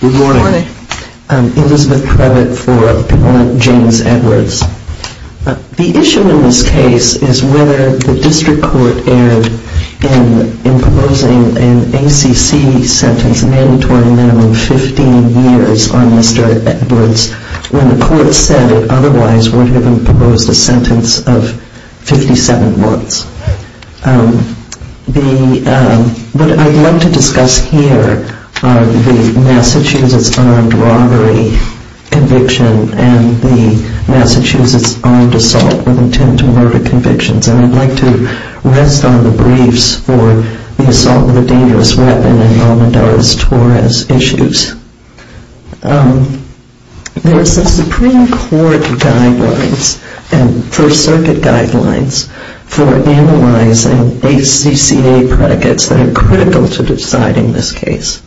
The issue in this case is whether the district court erred in proposing an ACC sentence of a mandatory minimum of 15 years on Mr. Edwards when the court said it otherwise would have proposed a sentence of 57 months. What I'd like to discuss here are the Massachusetts unarmed robbery conviction and the Massachusetts armed assault with intent to murder convictions. And I'd like to rest on the briefs for the assault with a dangerous weapon and the Almendarez-Torres issues. There's a Supreme Court guidelines and First Circuit guidelines for analyzing ACCA predicates that are critical to deciding this case.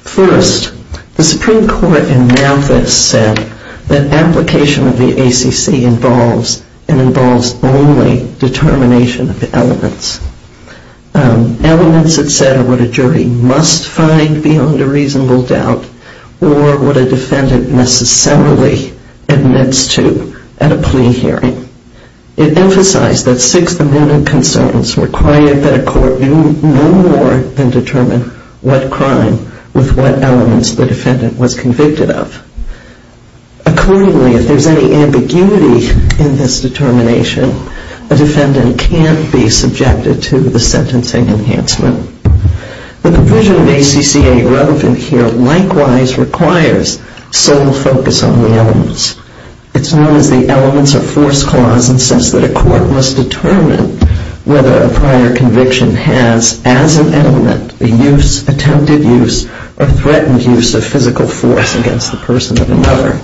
First, the Supreme Court in Malthus said that application of the ACC involves and involves only determination of the elements. Elements, it said, are what a jury must find beyond a reasonable doubt or what a defendant necessarily admits to at a plea hearing. It emphasized that sixth amendment concerns required that a court do no more than determine what crime with what elements the defendant was convicted of. Accordingly, if there's any ambiguity in this determination, a defendant can be subjected to the sentencing enhancement. The provision of ACCA relevant here likewise requires sole focus on the elements. It's known as the elements of force clause and says that a court must determine whether a prior conviction has as an element the use, attempted use, or threatened use of physical force against the person or another.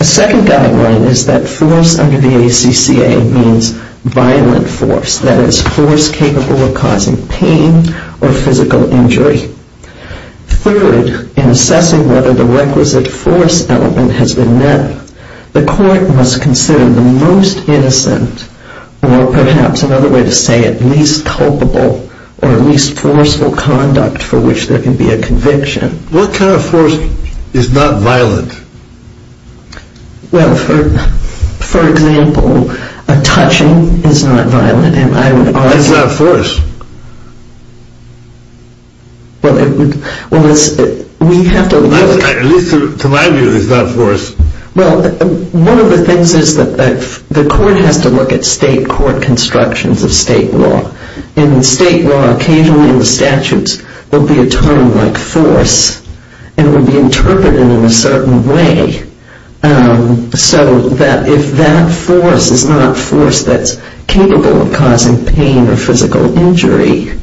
A second guideline is that force under the ACCA means violent force, that is force capable of causing pain or physical injury. Third, in assessing whether the requisite force element has been met, the court must consider the most innocent or perhaps another way to say it, least culpable or least forceful conduct for which there can be a conviction. What kind of force is not violent? Well, for example, a touching is not violent. That's not force. Well, we have to look at... At least to my view, it's not force. Well, one of the things is that the court has to look at state court constructions of state law. In state law, occasionally in the statutes, there will be a term like force and it will be interpreted in a certain way so that if that force is not force that's capable of causing pain or physical injury,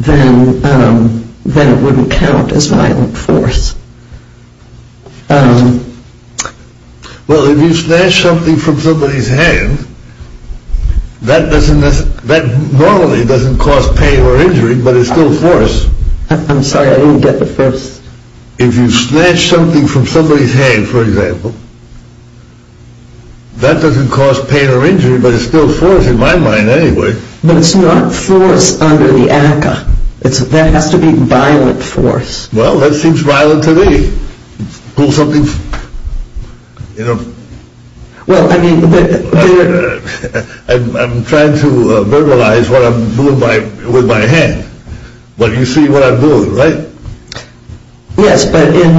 then it wouldn't count as violent force. Well, if you snatch something from somebody's hand, that normally doesn't cause pain or injury, but it's still force. I'm sorry, I didn't get the first. If you snatch something from somebody's hand, for example, that doesn't cause pain or injury, but it's still force in my mind anyway. But it's not force under the ACCA. That has to be violent force. Well, that seems violent to me. I'm trying to verbalize what I'm doing with my hand, but you see what I'm doing, right? Yes, but in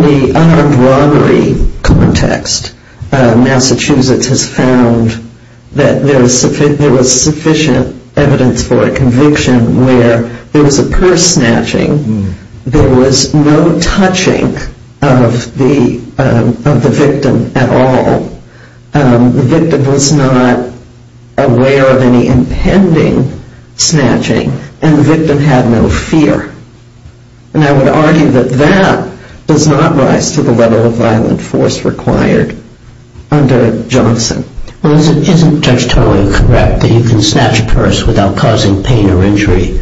the unarmed robbery context, Massachusetts has found that there was sufficient evidence for a conviction where there was a purse snatching, there was no touching of the victim at all, the victim was not aware of any impending snatching, and the victim had no fear. And I would argue that that does not rise to the level of violent force required under Johnson. Well, isn't Judge Toye correct that you can snatch a purse without causing pain or injury?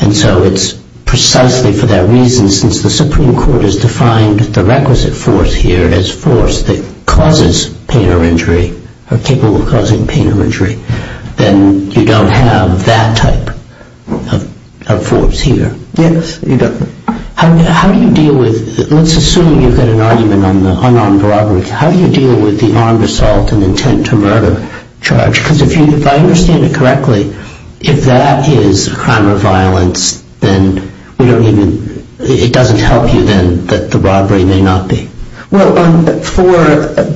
And so it's precisely for that reason, since the Supreme Court has defined the requisite force here as force that causes pain or injury, or capable of causing pain or injury, then you don't have that type of force here. Yes, you don't. How do you deal with, let's assume you've got an argument on the unarmed robbery, how do you deal with the unarmed assault and intent to murder charge? Because if I understand it correctly, if that is a crime of violence, then it doesn't help you then that the robbery may not be? Well, for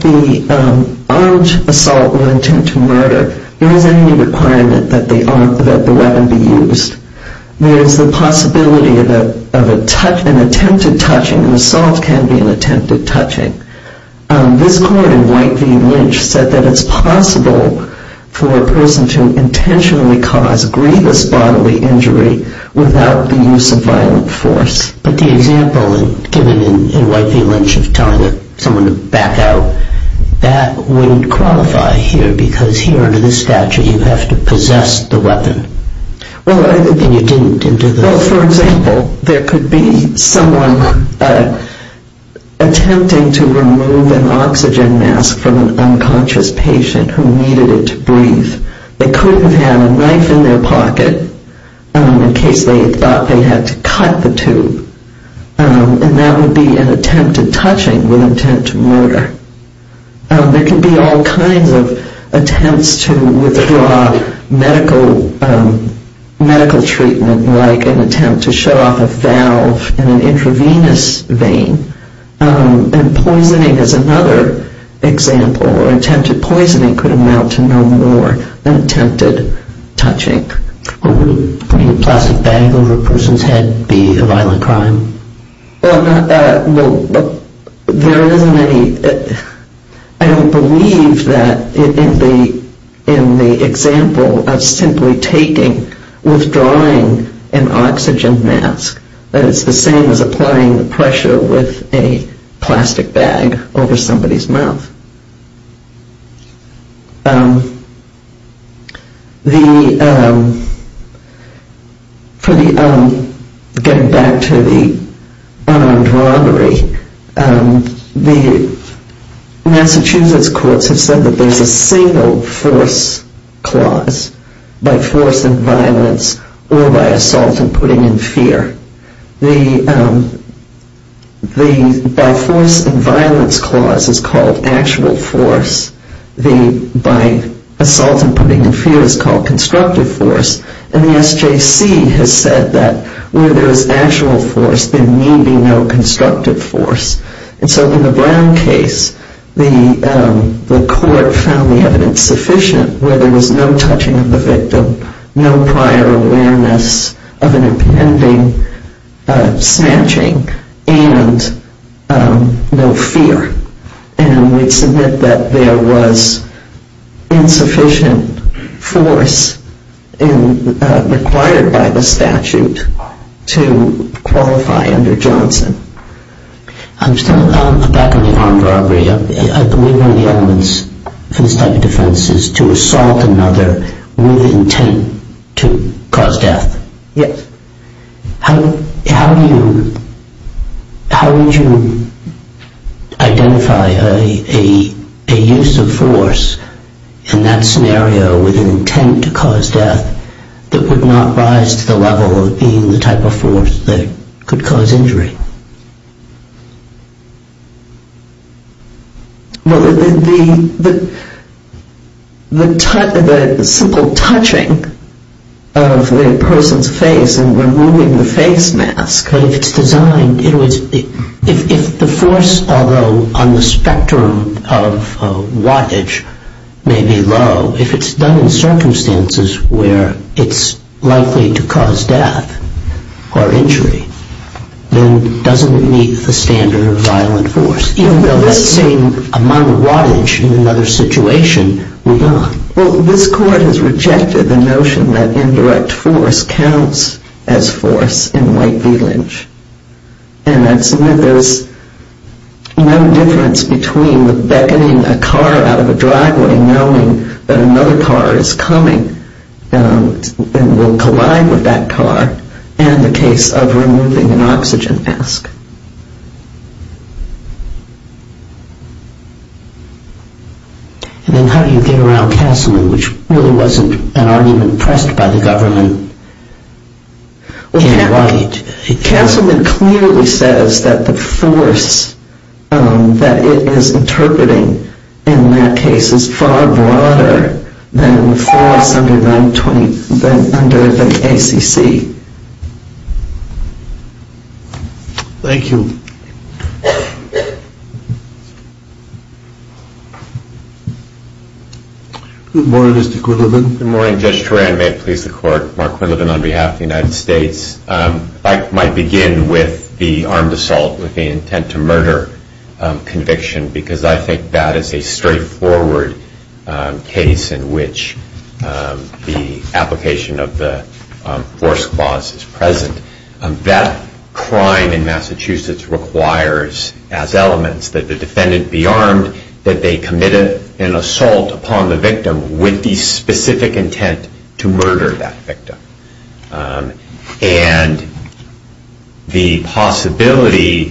the armed assault or intent to murder, there is any requirement that the weapon be used. There is the possibility of an attempted touching, and assault can be an attempted touching. This court in White v. Lynch said that it's possible for a person to intentionally cause grievous bodily injury without the use of violent force. But the example given in White v. Lynch of telling someone to back out, that wouldn't qualify here because here under this statute you have to possess the weapon. Well, I think... And you didn't do this. Well, for example, there could be someone attempting to remove an oxygen mask from an unconscious patient who needed it to breathe. They could have had a knife in their pocket in case they thought they had to cut the tube. And that would be an attempted touching with intent to murder. There could be all kinds of attempts to withdraw medical treatment, like an attempt to shut off a valve in an intravenous vein. And poisoning is another example, or attempted poisoning could amount to no more than attempted touching. Wouldn't putting a plastic bag over a person's head be a violent crime? Well, there isn't any... I don't believe that in the example of simply taking, withdrawing an oxygen mask, that it's the same as applying the pressure with a plastic bag over somebody's mouth. For the... getting back to the unarmed robbery, the Massachusetts courts have said that there's a single force clause, by force and violence or by assault and putting in fear. The by force and violence clause is called action. The by assault and putting in fear is called constructive force. And the SJC has said that where there is actual force, there need be no constructive force. And so in the Brown case, the court found the evidence sufficient where there was no touching of the victim, no prior awareness of an impending snatching, and no fear. And we submit that there was insufficient force required by the statute to qualify under Johnson. I'm still on the back of the armed robbery. I believe one of the elements of this type of defense is to assault another with intent to cause death. Yes. How would you identify a use of force in that scenario with an intent to cause death that would not rise to the level of being the type of force that could cause injury? Well, the simple touching of the person's face and removing the face mask, if it's designed, if the force, although on the spectrum of wattage, may be low, if it's done in circumstances where it's likely to cause death or injury, then it doesn't meet the standard of violent force. Even though that same amount of wattage in another situation would not. Well, this court has rejected the notion that indirect force counts as force in White v. Lynch. And I submit there's no difference between the beckoning a car out of a driveway knowing that another car is coming and will collide with that car and the case of removing an oxygen mask. And then how do you get around Castleman, which really wasn't an argument pressed by the government in White? Castleman clearly says that the force that it is interpreting in that case is far broader than the force under the ACC. Thank you. Good morning, Mr. Quillivan. Good morning, Judge Turan. May it please the court. Mark Quillivan on behalf of the United States. I might begin with the armed assault with the intent to murder conviction because I think that is a straightforward case in which the application of the force clause is present. That crime in Massachusetts requires as elements that the defendant be armed, that they commit an assault upon the victim with the specific intent to murder that victim. And the possibility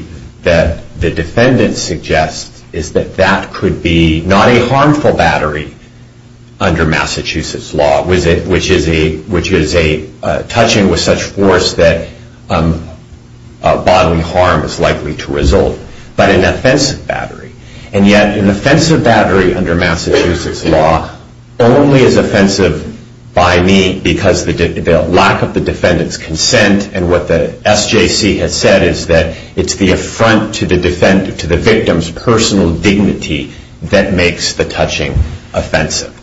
that the defendant suggests is that that could be not a harmful battery under Massachusetts law, which is a touching with such force that bodily harm is likely to result, but an offensive battery. And yet an offensive battery under Massachusetts law only is offensive by me because the lack of the defendant's consent and what the SJC has said is that it's the affront to the victim's personal dignity that makes the touching offensive.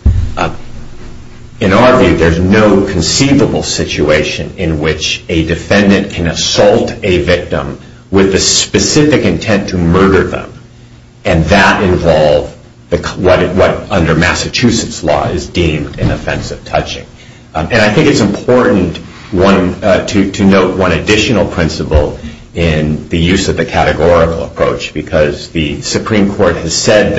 In our view, there's no conceivable situation in which a defendant can assault a victim with the specific intent to murder them, and that involves what under Massachusetts law is deemed an offensive touching. And I think it's important to note one additional principle in the use of the categorical approach because the Supreme Court has said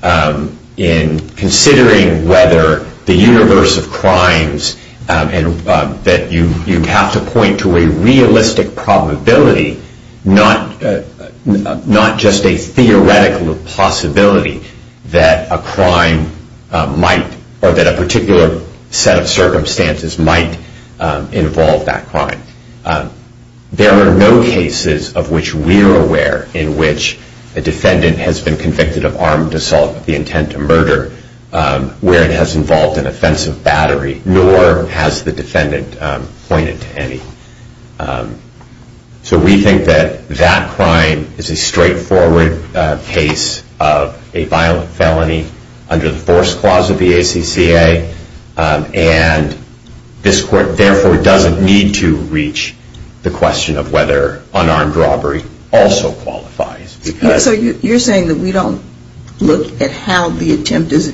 that in considering whether the universe of crimes, that you have to point to a realistic probability, not just a theoretical possibility, that a crime might, or that a particular set of circumstances might involve that crime. There are no cases of which we are aware in which a defendant has been convicted of armed assault with the intent to murder where it has involved an offensive battery, nor has the defendant pointed to any. So we think that that crime is a straightforward case of a violent felony under the force clause of the ACCA, and this court therefore doesn't need to reach the question of whether unarmed robbery also qualifies. So you're saying that we don't look at how the attempt is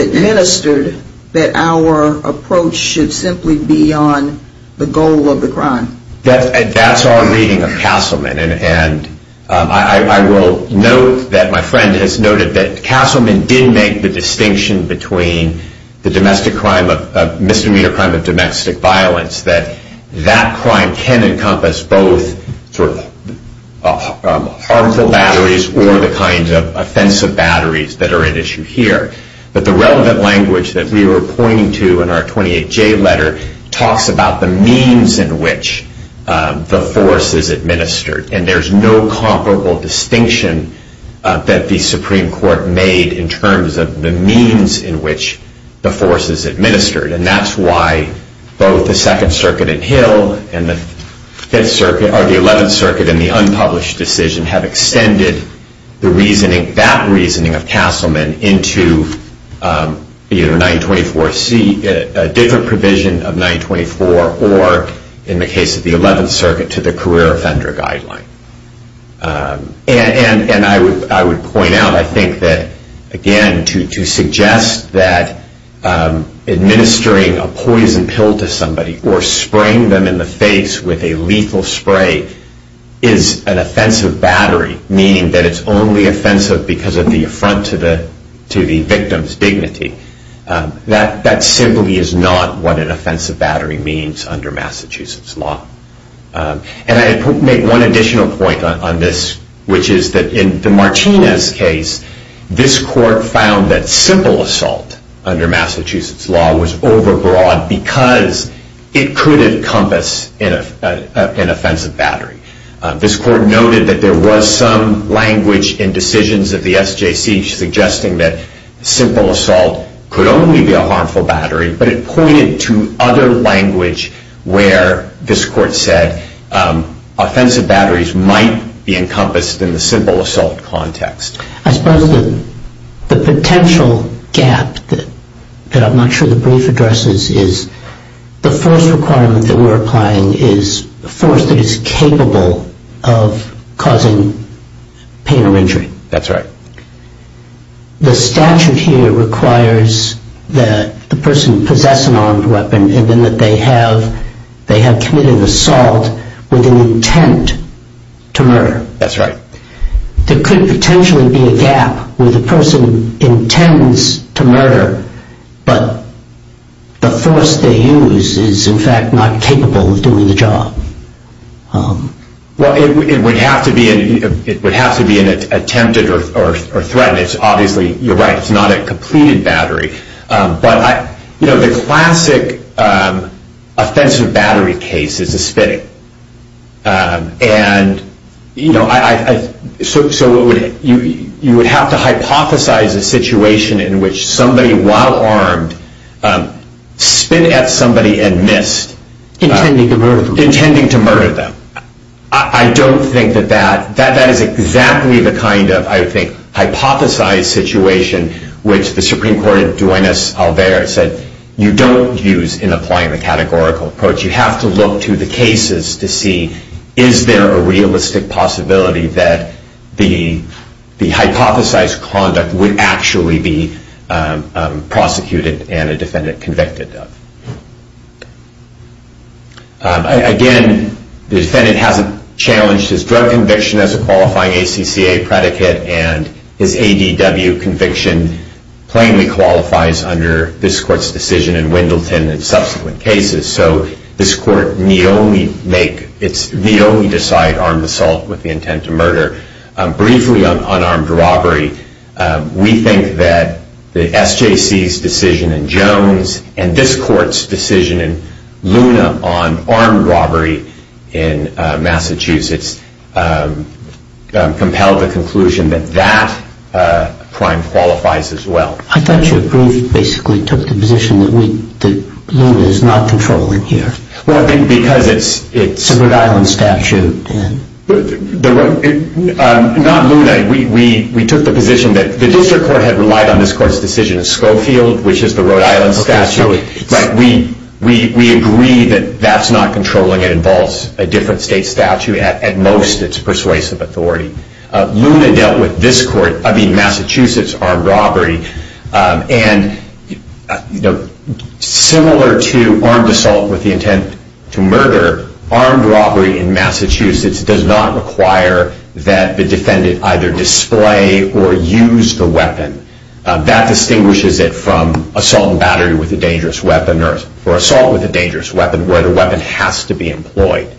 administered, that our approach should simply be on the goal of the crime? That's our reading of Castleman, and I will note that my friend has noted that Castleman did make the distinction between the misdemeanor crime of domestic violence, that that crime can encompass both harmful batteries or the kind of offensive batteries that are at issue here. But the relevant language that we were pointing to in our 28J letter talks about the means in which the force is administered, and there's no comparable distinction that the Supreme Court made in terms of the means in which the force is administered. And that's why both the Second Circuit in Hill and the Eleventh Circuit in the unpublished decision have extended that reasoning of Castleman into either a different provision of 924 or, in the case of the Eleventh Circuit, to the career offender guideline. And I would point out, I think that, again, to suggest that administering a poison pill to somebody or spraying them in the face with a lethal spray is an offensive battery, meaning that it's only offensive because of the affront to the victim's dignity, that simply is not what an offensive battery means under Massachusetts law. And I make one additional point on this, which is that in the Martinez case, this court found that simple assault under Massachusetts law was overbroad because it could encompass an offensive battery. This court noted that there was some language in decisions of the SJC suggesting that simple assault could only be a harmful battery, but it pointed to other language where this court said offensive batteries might be encompassed in the simple assault context. I suppose the potential gap that I'm not sure the brief addresses is the force requirement that we're applying is a force that is capable of causing pain or injury. That's right. The statute here requires that the person possess an armed weapon and that they have committed an assault with an intent to murder. That's right. There could potentially be a gap where the person intends to murder, but the force they use is, in fact, not capable of doing the job. Well, it would have to be an attempted or threatened. Obviously, you're right. It's not a completed battery. But the classic offensive battery case is a spitting. And so you would have to hypothesize a situation in which somebody, while armed, spin at somebody and missed. Intending to murder them. Intending to murder them. I don't think that that is exactly the kind of, I think, hypothesized situation, which the Supreme Court in Duenas-Alvarez said you don't use in applying the categorical approach. You have to look to the cases to see is there a realistic possibility that the hypothesized conduct would actually be prosecuted and a defendant convicted of. Again, the defendant hasn't challenged his drug conviction as a qualifying ACCA predicate, and his ADW conviction plainly qualifies under this court's decision in Wendleton and subsequent cases. So this court need only decide armed assault with the intent to murder. Briefly on unarmed robbery, we think that the SJC's decision in Jones and this court's decision in Luna on armed robbery in Massachusetts compel the conclusion that that crime qualifies as well. I thought you basically took the position that Luna is not controlling here. Well, I think because it's a Rhode Island statute. Not Luna. We took the position that the district court had relied on this court's decision in Schofield, which is the Rhode Island statute. But we agree that that's not controlling. It involves a different state statute. At most, it's persuasive authority. Luna dealt with this court. I mean, Massachusetts armed robbery. And similar to armed assault with the intent to murder, armed robbery in Massachusetts does not require that the defendant either display or use the weapon. That distinguishes it from assault and battery with a dangerous weapon or assault with a dangerous weapon where the weapon has to be employed.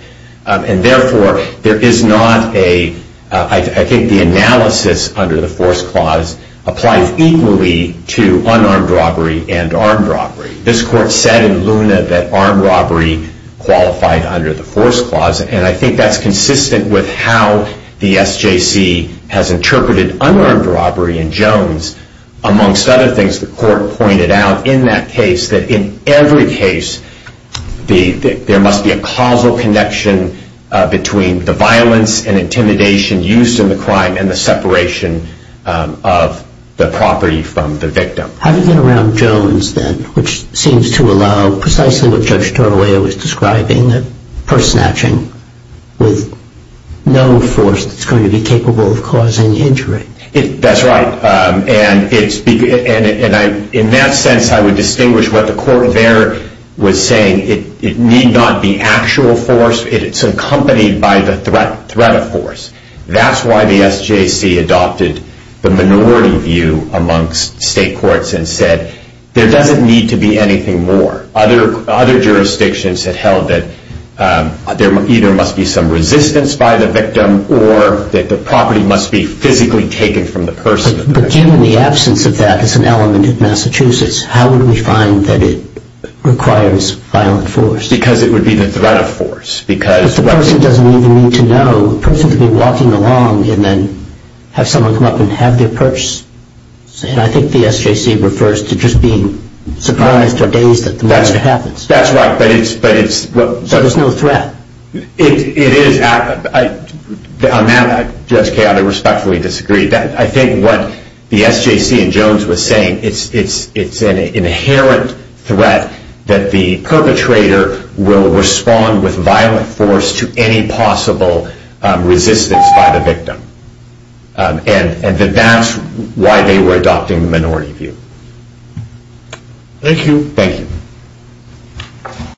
And therefore, I think the analysis under the force clause applies equally to unarmed robbery and armed robbery. This court said in Luna that armed robbery qualified under the force clause. And I think that's consistent with how the SJC has interpreted unarmed robbery in Jones. Amongst other things, the court pointed out in that case that in every case, there must be a causal connection between the violence and intimidation used in the crime and the separation of the property from the victim. Having been around Jones then, which seems to allow precisely what Judge Torralia was describing, purse snatching with no force that's going to be capable of causing injury. That's right. And in that sense, I would distinguish what the court there was saying. It need not be actual force. It's accompanied by the threat of force. That's why the SJC adopted the minority view amongst state courts and said there doesn't need to be anything more. Other jurisdictions have held that there either must be some resistance by the victim or that the property must be physically taken from the person. But given the absence of that as an element in Massachusetts, how would we find that it requires violent force? Because it would be the threat of force. But the person doesn't even need to know. The person could be walking along and then have someone come up and have their purse. And I think the SJC refers to just being surprised or dazed at the moment it happens. That's right. So there's no threat. It is. I respectfully disagree. I think what the SJC and Jones were saying, it's an inherent threat that the perpetrator will respond with violent force to any possible resistance by the victim. And that's why they were adopting the minority view. Thank you. Thank you.